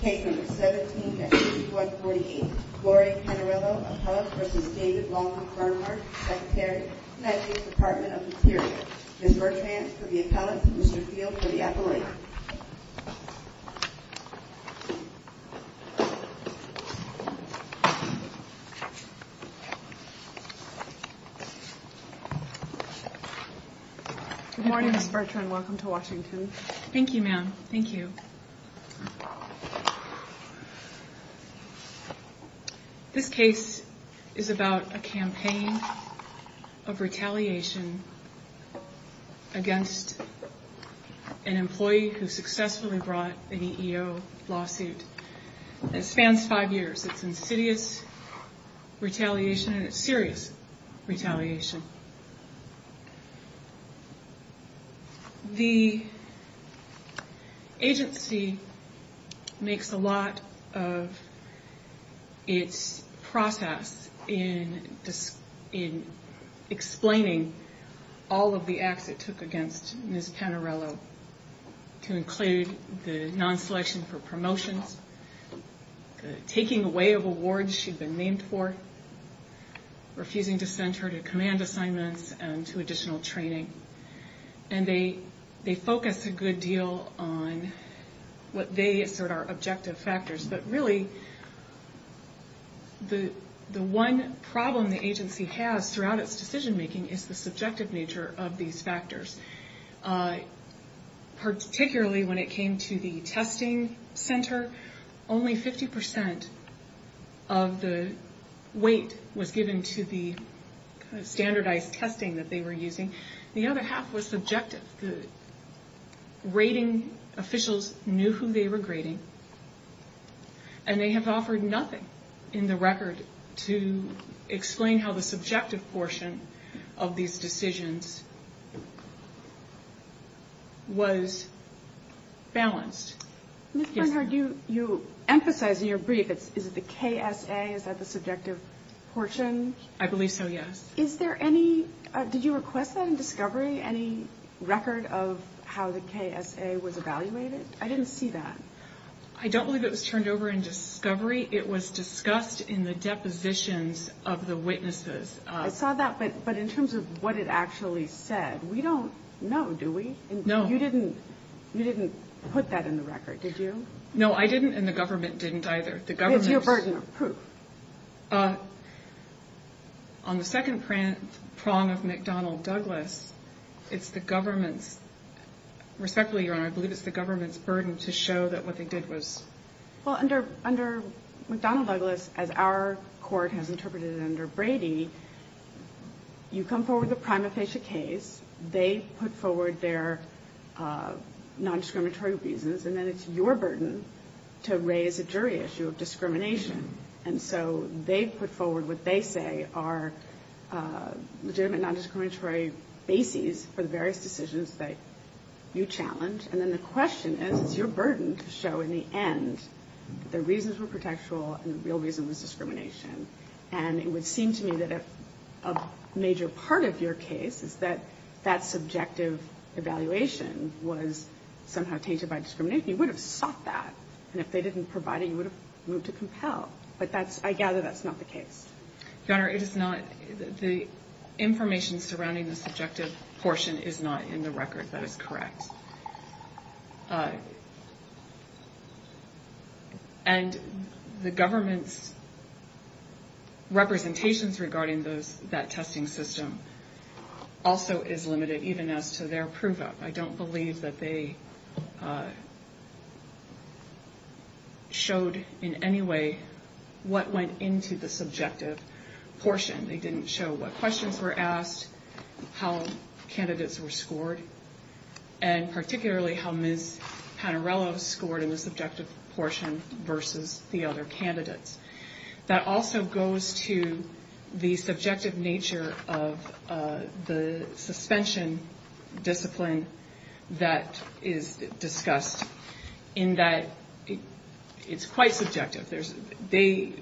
Case number 17-3148. Gloria Panarello, appellate, v. David Long, Bernhardt, Secretary, United States Department of the Interior. Ms. Bertrand for the appellate, Mr. Field for the appellate. Good morning, Ms. Bertrand. Welcome to Washington. Thank you, ma'am. Thank you. This case is about a campaign of retaliation against an employee who successfully brought an EEO lawsuit. It spans five years. It's insidious retaliation and it's serious retaliation. The agency makes a lot of its process in explaining all of the acts it took against Ms. Panarello to include the non-selection for promotions, taking away of awards she'd been named for, refusing to send her to command assignments and to additional training. And they focus a good deal on what they assert are objective factors. But really, the one problem the agency has throughout its decision making is the subjective nature of these factors. Particularly when it came to the testing center, only 50% of the weight was given to the standardized testing that they were using. The other half was subjective. The rating officials knew who they were grading and they have offered nothing in the record to explain how the subjective portion of these decisions was balanced. Ms. Bernhard, you emphasize in your brief, is it the KSA? Is that the subjective portion? I believe so, yes. Is there any, did you request that in discovery, any record of how the KSA was evaluated? I didn't see that. I don't believe it was turned over in discovery. It was discussed in the depositions of the witnesses. I saw that, but in terms of what it actually said, we don't know, do we? No. You didn't put that in the record, did you? No, I didn't and the government didn't either. It's your burden of proof. On the second prong of McDonnell-Douglas, it's the government's, respectfully, Your Honor, I believe it's the government's burden to show that what they did was... Well, under McDonnell-Douglas, as our court has interpreted it under Brady, you come forward with a prima facie case, they put forward their nondiscriminatory reasons, and then it's your burden to raise a jury issue of discrimination. And so they put forward what they say are legitimate nondiscriminatory bases for the various decisions that you challenge. And then the question is, it's your burden to show in the end the reasons were protectual and the real reason was discrimination. And it would seem to me that a major part of your case is that that subjective evaluation was somehow tainted by discrimination. You would have sought that, and if they didn't provide it, you would have moved to compel. But I gather that's not the case. Your Honor, it is not. The information surrounding the subjective portion is not in the record. That is correct. And the government's representations regarding that testing system also is limited, even as to their prove-up. I don't believe that they showed in any way what went into the subjective portion. They didn't show what questions were asked, how candidates were scored, and particularly how Ms. Panarello scored in the subjective portion versus the other candidates. That also goes to the subjective nature of the suspension discipline that is discussed, in that it's quite subjective. They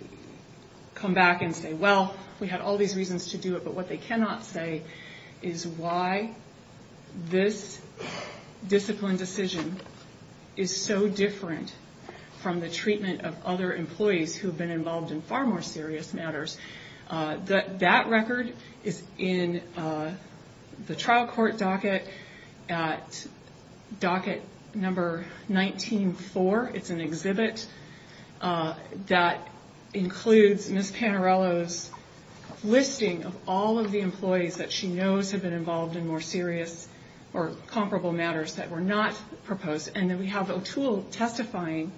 come back and say, well, we had all these reasons to do it, but what they cannot say is why this discipline decision is so different from the treatment of other employees who have been involved in far more serious matters. That record is in the trial court docket at docket number 19-4. It's an exhibit that includes Ms. Panarello's listing of all of the employees that she knows have been involved in more serious or comparable matters that were not proposed. And then we have O'Toole testifying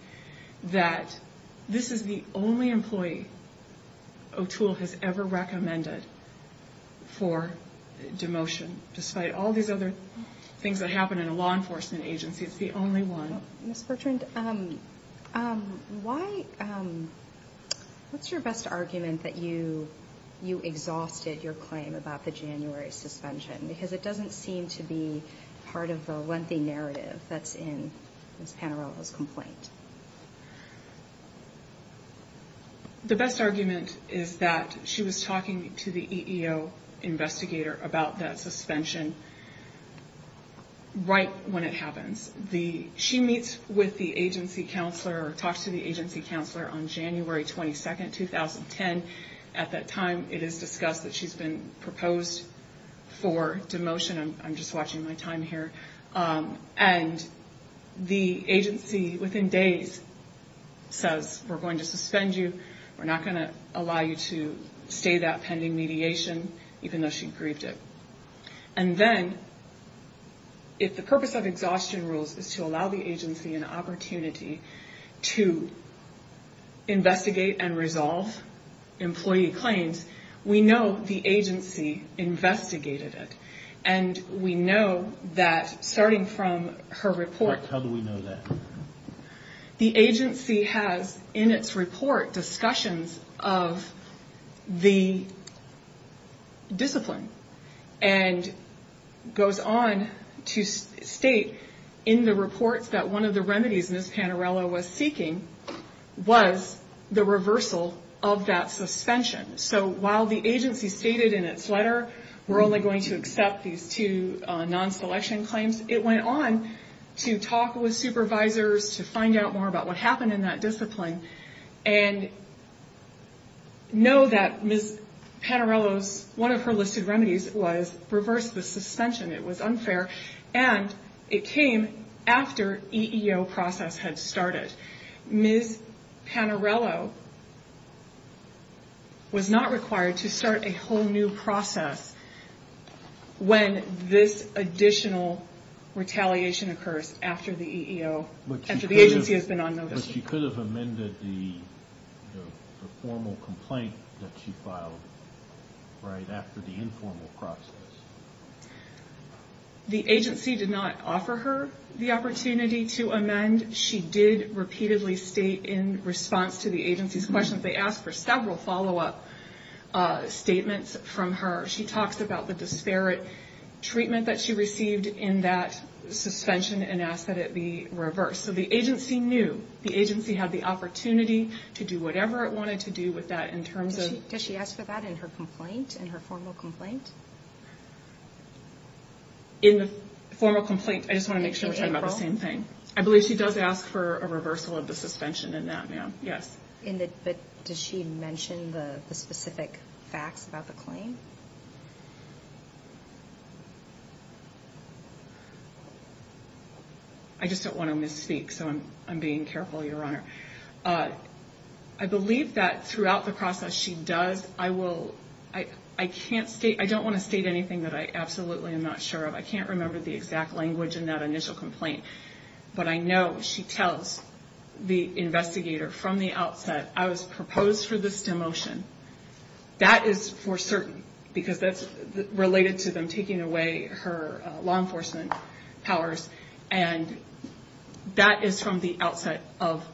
that this is the only employee O'Toole has ever recommended for demotion, despite all these other things that happen in a law enforcement agency. It's the only one. Ms. Bertrand, what's your best argument that you exhausted your claim about the January suspension? Because it doesn't seem to be part of the lengthy narrative that's in Ms. Panarello's complaint. The best argument is that she was talking to the EEO investigator about that suspension right when it happens. She meets with the agency counselor or talks to the agency counselor on January 22, 2010. At that time, it is discussed that she's been proposed for demotion. I'm just watching my time here. And the agency, within days, says we're going to suspend you. We're not going to allow you to stay that pending mediation, even though she grieved it. And then, if the purpose of exhaustion rules is to allow the agency an opportunity to investigate and resolve employee claims, we know the agency investigated it. And we know that, starting from her report... How do we know that? The agency has, in its report, discussions of the discipline, and goes on to state in the report that one of the remedies Ms. Panarello was seeking was the reversal of that suspension. So, while the agency stated in its letter, we're only going to accept these two non-selection claims, it went on to talk with supervisors to find out more about what happened in that discipline and know that Ms. Panarello's, one of her listed remedies was reverse the suspension. It was unfair. And it came after EEO process had started. Ms. Panarello was not required to start a whole new process when this additional retaliation occurs after the agency has been on notice. But she could have amended the formal complaint that she filed right after the informal process. The agency did not offer her the opportunity to amend. She did repeatedly state in response to the agency's questions, they asked for several follow-up statements from her. She talks about the disparate treatment that she received in that suspension and asked that it be reversed. So the agency knew, the agency had the opportunity to do whatever it wanted to do with that in terms of... Does she ask for that in her complaint, in her formal complaint? In the formal complaint, I just want to make sure we're talking about the same thing. I believe she does ask for a reversal of the suspension in that, ma'am. Yes. But does she mention the specific facts about the claim? I just don't want to misspeak, so I'm being careful, Your Honor. I believe that throughout the process, she does. I don't want to state anything that I absolutely am not sure of. I can't remember the exact language in that initial complaint. But I know she tells the investigator from the outset, I was proposed for this demotion. That is for certain, because that's related to them taking away her law enforcement powers. And that is from the outset of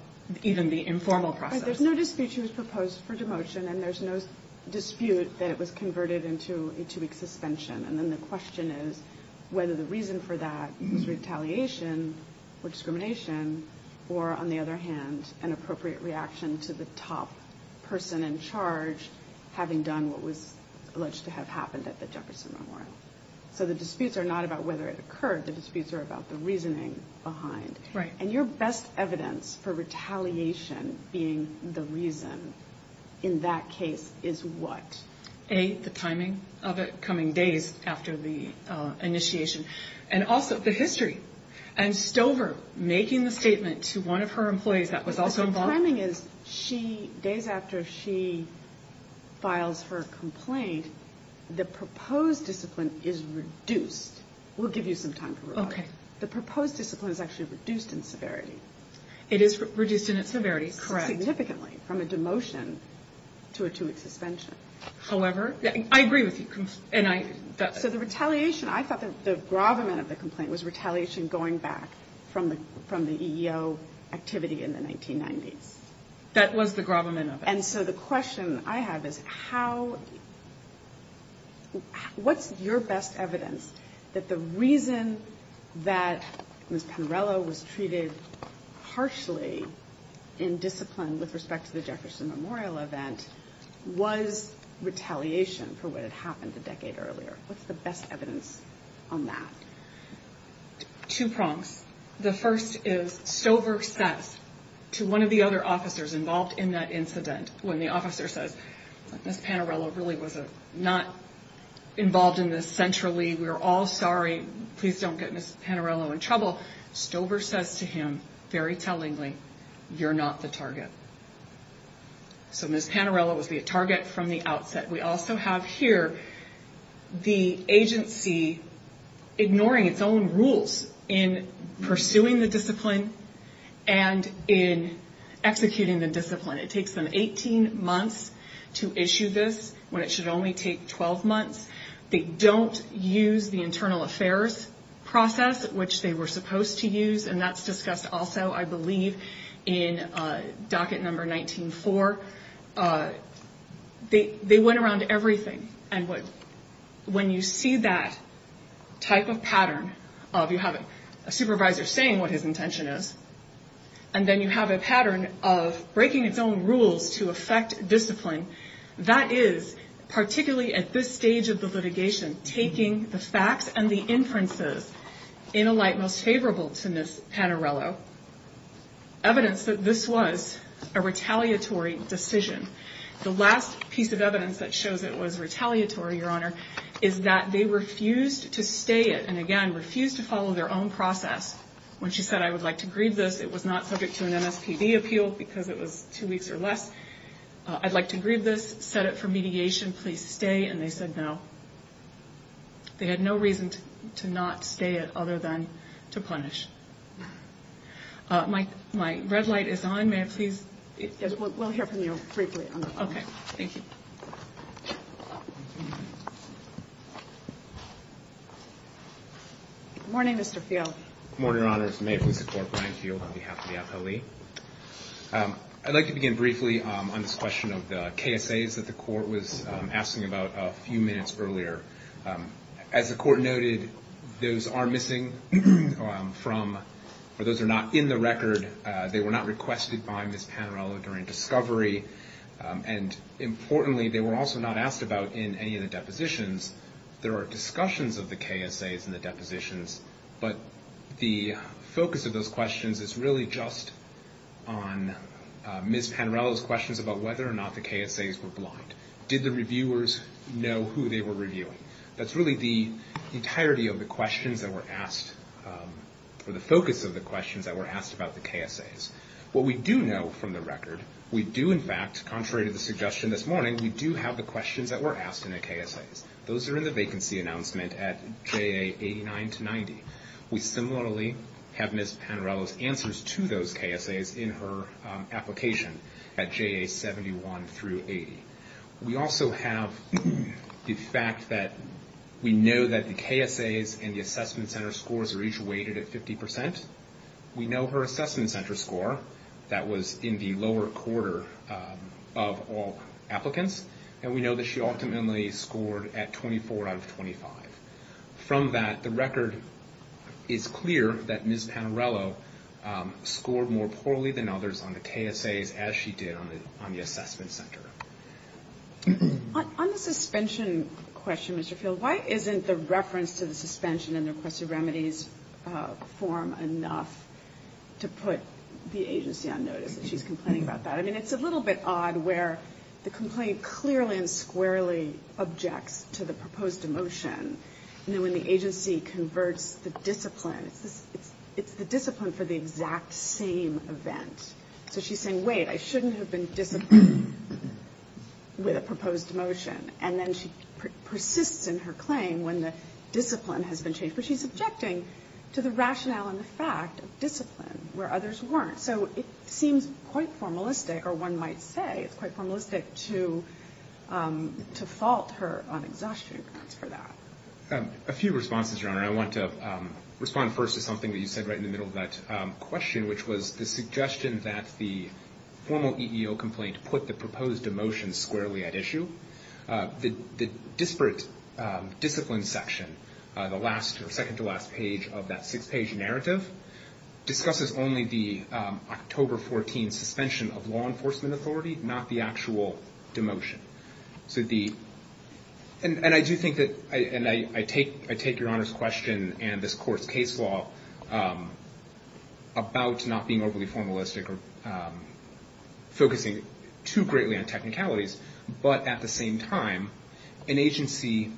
even the informal process. There's no dispute she was proposed for demotion, and there's no dispute that it was converted into a two-week suspension. And then the question is whether the reason for that was retaliation or discrimination, or, on the other hand, an appropriate reaction to the top person in charge having done what was alleged to have happened at the Jefferson Memorial. So the disputes are not about whether it occurred. The disputes are about the reasoning behind. And your best evidence for retaliation being the reason in that case is what? A, the timing of it coming days after the initiation, and also the history. And Stover making the statement to one of her employees that was also involved. But the timing is days after she files her complaint, the proposed discipline is reduced. We'll give you some time for that. Okay. The proposed discipline is actually reduced in severity. It is reduced in its severity, correct. Significantly from a demotion to a two-week suspension. However, I agree with you. So the retaliation, I thought the gravamen of the complaint was retaliation going back from the EEO activity in the 1990s. And so the question I have is how, what's your best evidence that the reason that Ms. Penarello was treated harshly in discipline with respect to the Jefferson Memorial event was retaliation for what had happened a decade earlier. What's the best evidence on that? Two prongs. The first is Stover says to one of the other officers involved in that incident, when the officer says, Ms. Penarello really was not involved in this centrally. We're all sorry. Please don't get Ms. Penarello in trouble. Stover says to him, very tellingly, you're not the target. So Ms. Penarello was the target from the outset. We also have here the agency ignoring its own rules in pursuing the discipline and in executing the discipline. It takes them 18 months to issue this when it should only take 12 months. They don't use the internal affairs process, which they were supposed to use, and that's discussed also, I believe, in docket number 19-4. They went around everything. And when you see that type of pattern of you have a supervisor saying what his intention is, and then you have a pattern of breaking its own rules to affect discipline, that is particularly at this stage of the litigation, taking the facts and the inferences in a light most favorable to Ms. Penarello, evidence that this was a retaliatory decision. The last piece of evidence that shows it was retaliatory, Your Honor, is that they refused to stay it and, again, refused to follow their own process. When she said, I would like to grieve this, it was not subject to an MSPB appeal because it was two weeks or less. I'd like to grieve this, set it for mediation. Please stay. And they said no. They had no reason to not stay it other than to punish. My red light is on. May I please? Yes, we'll hear from you briefly. Okay. Thank you. Good morning, Mr. Field. Good morning, Your Honors. May it please the Court, Brian Field on behalf of the appellee. I'd like to begin briefly on this question of the KSAs that the Court was asking about a few minutes earlier. As the Court noted, those are missing from or those are not in the record. They were not requested by Ms. Penarello during discovery. And, importantly, they were also not asked about in any of the depositions. There are discussions of the KSAs in the depositions, but the focus of those questions is really just on Ms. Penarello's questions about whether or not the KSAs were blind. Did the reviewers know who they were reviewing? That's really the entirety of the questions that were asked, or the focus of the questions that were asked about the KSAs. What we do know from the record, we do, in fact, contrary to the suggestion this morning, we do have the questions that were asked in the KSAs. Those are in the vacancy announcement at JA 89 to 90. We similarly have Ms. Penarello's answers to those KSAs in her application at JA 71 through 80. We also have the fact that we know that the KSAs and the assessment center scores are each weighted at 50%. We know her assessment center score that was in the lower quarter of all applicants, and we know that she ultimately scored at 24 out of 25. From that, the record is clear that Ms. Penarello scored more poorly than others on the KSAs as she did on the assessment center. On the suspension question, Mr. Field, why isn't the reference to the suspension in the requested remedies form enough to put the agency on notice that she's complaining about that? I mean, it's a little bit odd where the complaint clearly and squarely objects to the proposed motion, and then when the agency converts the discipline, it's the discipline for the exact same event. So she's saying, wait, I shouldn't have been disciplined with a proposed motion, and then she persists in her claim when the discipline has been changed. But she's objecting to the rationale and the fact of discipline where others weren't. So it seems quite formalistic, or one might say it's quite formalistic, to fault her on exhaustion grounds for that. A few responses, Your Honor. I want to respond first to something that you said right in the middle of that question, which was the suggestion that the formal EEO complaint put the proposed motion squarely at issue. The disparate discipline section, the last or second-to-last page of that six-page narrative, discusses only the October 14 suspension of law enforcement authority, not the actual demotion. And I do think that, and I take Your Honor's question and this court's case law about not being overly formalistic or focusing too greatly on technicalities, but at the same time, an agency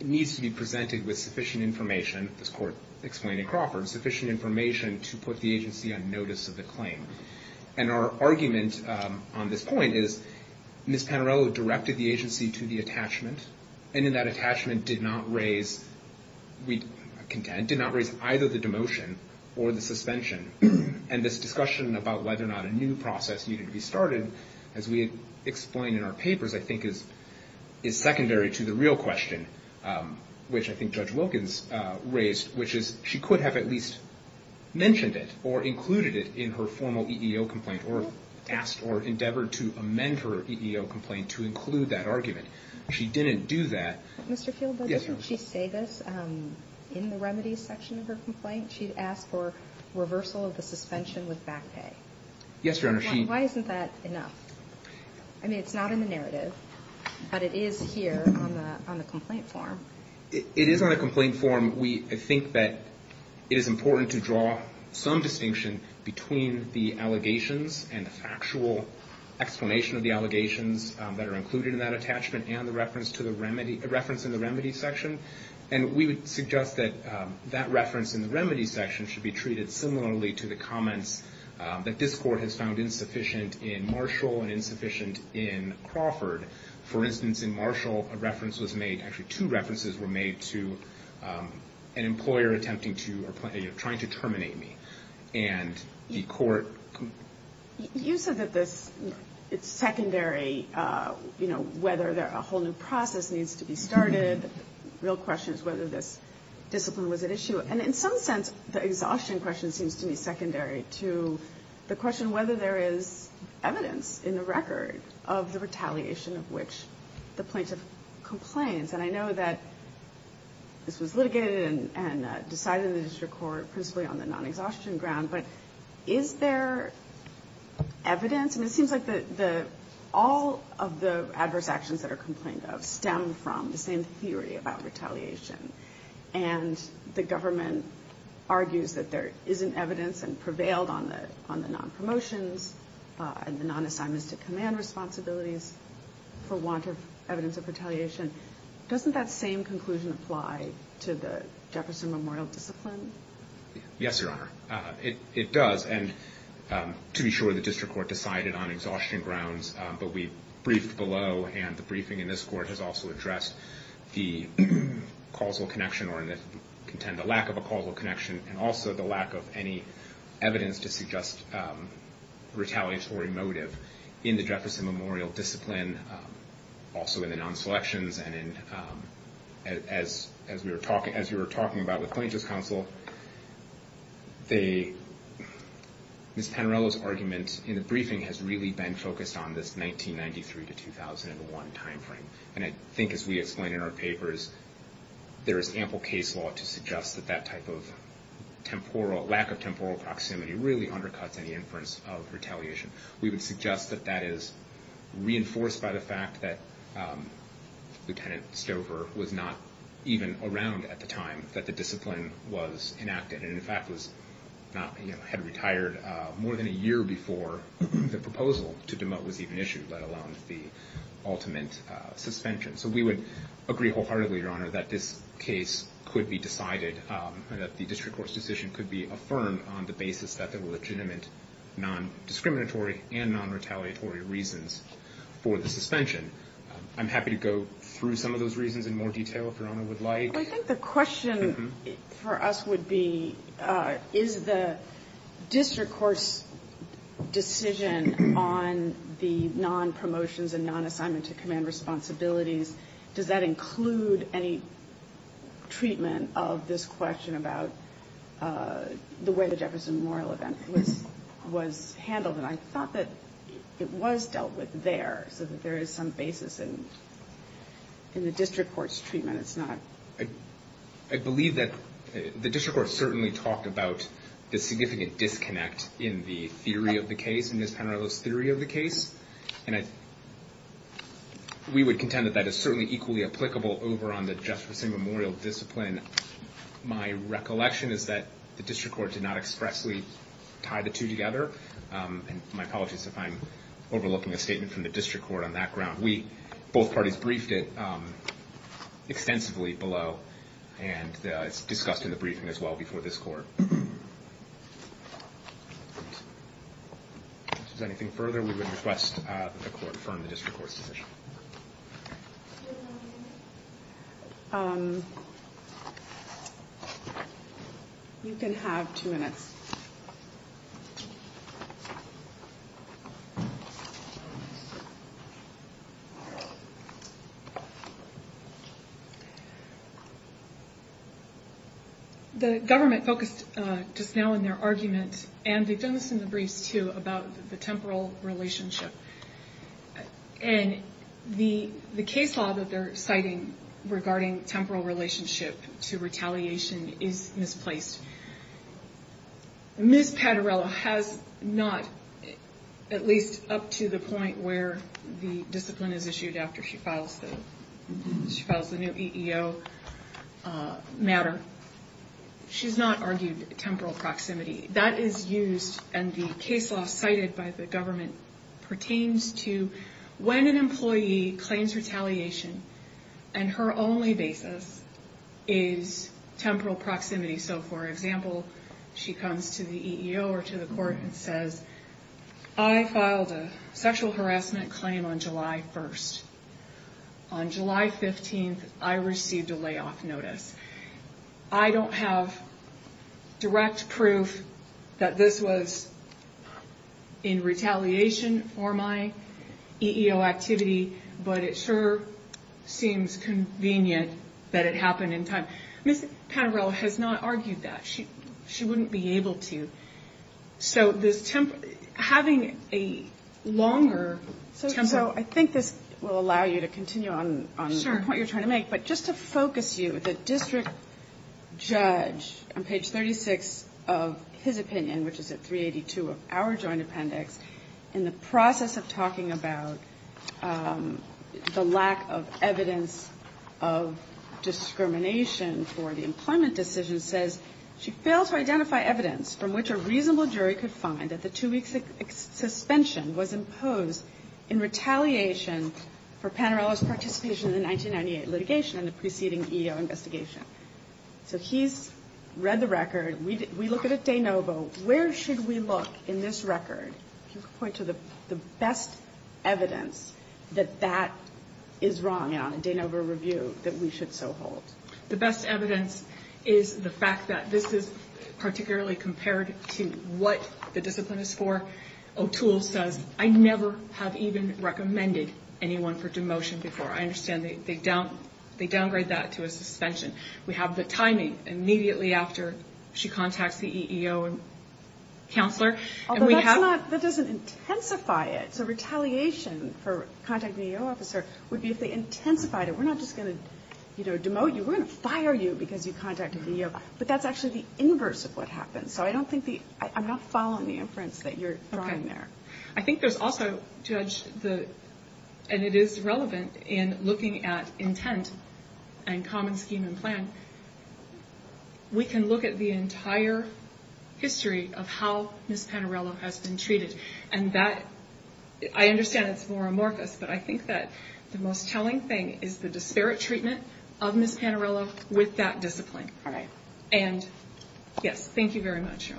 needs to be presented with sufficient information, this court explained in Crawford, sufficient information to put the agency on notice of the claim. And our argument on this point is Ms. Panarello directed the agency to the attachment, and in that attachment did not raise either the demotion or the suspension. And this discussion about whether or not a new process needed to be started, as we explain in our papers, I think is secondary to the real question, which I think Judge Wilkins raised, which is she could have at least mentioned it or included it in her formal EEO complaint or asked or endeavored to amend her EEO complaint to include that argument. She didn't do that. Mr. Fieldberg, didn't she say this in the remedies section of her complaint? She asked for reversal of the suspension with back pay. Yes, Your Honor. Why isn't that enough? I mean, it's not in the narrative, but it is here on the complaint form. It is on the complaint form. We think that it is important to draw some distinction between the allegations and the factual explanation of the allegations that are included in that attachment and the reference in the remedies section. And we would suggest that that reference in the remedies section should be treated similarly to the comments that this Court has found insufficient in Marshall and insufficient in Crawford. For instance, in Marshall, a reference was made, actually two references were made, to an employer attempting to, you know, trying to terminate me. And the Court... You said that this is secondary, you know, whether a whole new process needs to be started, the real question is whether this discipline was at issue. And in some sense, the exhaustion question seems to me secondary to the question whether there is evidence in the record of the retaliation of which the plaintiff complains. And I know that this was litigated and decided in the district court principally on the non-exhaustion ground, but is there evidence? It seems like all of the adverse actions that are complained of stem from the same theory about retaliation. And the government argues that there isn't evidence and prevailed on the non-promotions and the non-assignments to command responsibilities for want of evidence of retaliation. Doesn't that same conclusion apply to the Jefferson Memorial discipline? Yes, Your Honor, it does. And to be sure, the district court decided on exhaustion grounds, but we briefed below, and the briefing in this court has also addressed the causal connection or the lack of a causal connection and also the lack of any evidence to suggest retaliatory motive in the Jefferson Memorial discipline, also in the non-selections. And as we were talking about with Plaintiff's Counsel, Ms. Panarello's argument in the briefing has really been focused on this 1993 to 2001 time frame. And I think as we explain in our papers, there is ample case law to suggest that that type of lack of temporal proximity really undercuts any inference of retaliation. We would suggest that that is reinforced by the fact that Lieutenant Stover was not even around at the time that the discipline was enacted and in fact had retired more than a year before the proposal to demote was even issued, let alone the ultimate suspension. So we would agree wholeheartedly, Your Honor, that this case could be decided and that the district court's decision could be affirmed on the basis that there were legitimate non-discriminatory and non-retaliatory reasons for the suspension. I'm happy to go through some of those reasons in more detail if Your Honor would like. I think the question for us would be, is the district court's decision on the non-promotions and non-assignment to command responsibilities, does that include any treatment of this question about the way the Jefferson Memorial event was handled? And I thought that it was dealt with there, so that there is some basis in the district court's treatment. I believe that the district court certainly talked about the significant disconnect in the theory of the case, in Ms. Panarello's theory of the case. And we would contend that that is certainly equally applicable over on the Jefferson Memorial discipline. My recollection is that the district court did not expressly tie the two together, and my apologies if I'm overlooking a statement from the district court on that ground. Both parties briefed it extensively below, and it's discussed in the briefing as well before this court. If there's anything further, we would request that the court confirm the district court's decision. You can have two minutes. The government focused just now in their argument, and they've done this in the briefs too, about the temporal relationship. And the case law that they're citing regarding temporal relationship to retaliation is misplaced. Ms. Panarello has not, at least up to the point where the discipline is issued after she files the new EEO matter, she's not argued temporal proximity. That is used, and the case law cited by the government pertains to when an employee claims retaliation, and her only basis is temporal proximity. So, for example, she comes to the EEO or to the court and says, I filed a sexual harassment claim on July 1st. On July 15th, I received a layoff notice. I don't have direct proof that this was in retaliation for my EEO activity, but it sure seems convenient that it happened in time. Ms. Panarello has not argued that. She wouldn't be able to. So, having a longer temporal... So, I think this will allow you to continue on the point you're trying to make, but just to focus you, the district judge, on page 36 of his opinion, which is at 382 of our joint appendix, in the process of talking about the lack of evidence of discrimination for the employment decision, says she failed to identify evidence from which a reasonable jury could find that the two-week suspension was imposed in retaliation for Panarello's participation in the 1998 litigation and the preceding EEO investigation. So, he's read the record. We look at it de novo. Where should we look in this record to point to the best evidence that that is wrong, in a de novo review, that we should so hold? The best evidence is the fact that this is particularly compared to what the discipline is for. O'Toole says, I never have even recommended anyone for demotion before. I understand they downgrade that to a suspension. We have the timing immediately after she contacts the EEO counselor. That doesn't intensify it. So, retaliation for contacting the EEO officer would be if they intensified it. We're not just going to demote you. We're going to fire you because you contacted the EEO. But that's actually the inverse of what happens. So, I'm not following the inference that you're drawing there. I think there's also, Judge, and it is relevant in looking at intent and common scheme and plan, we can look at the entire history of how Ms. Panarello has been treated. And that, I understand it's more amorphous, but I think that the most telling thing is the disparate treatment of Ms. Panarello with that discipline. And, yes, thank you very much.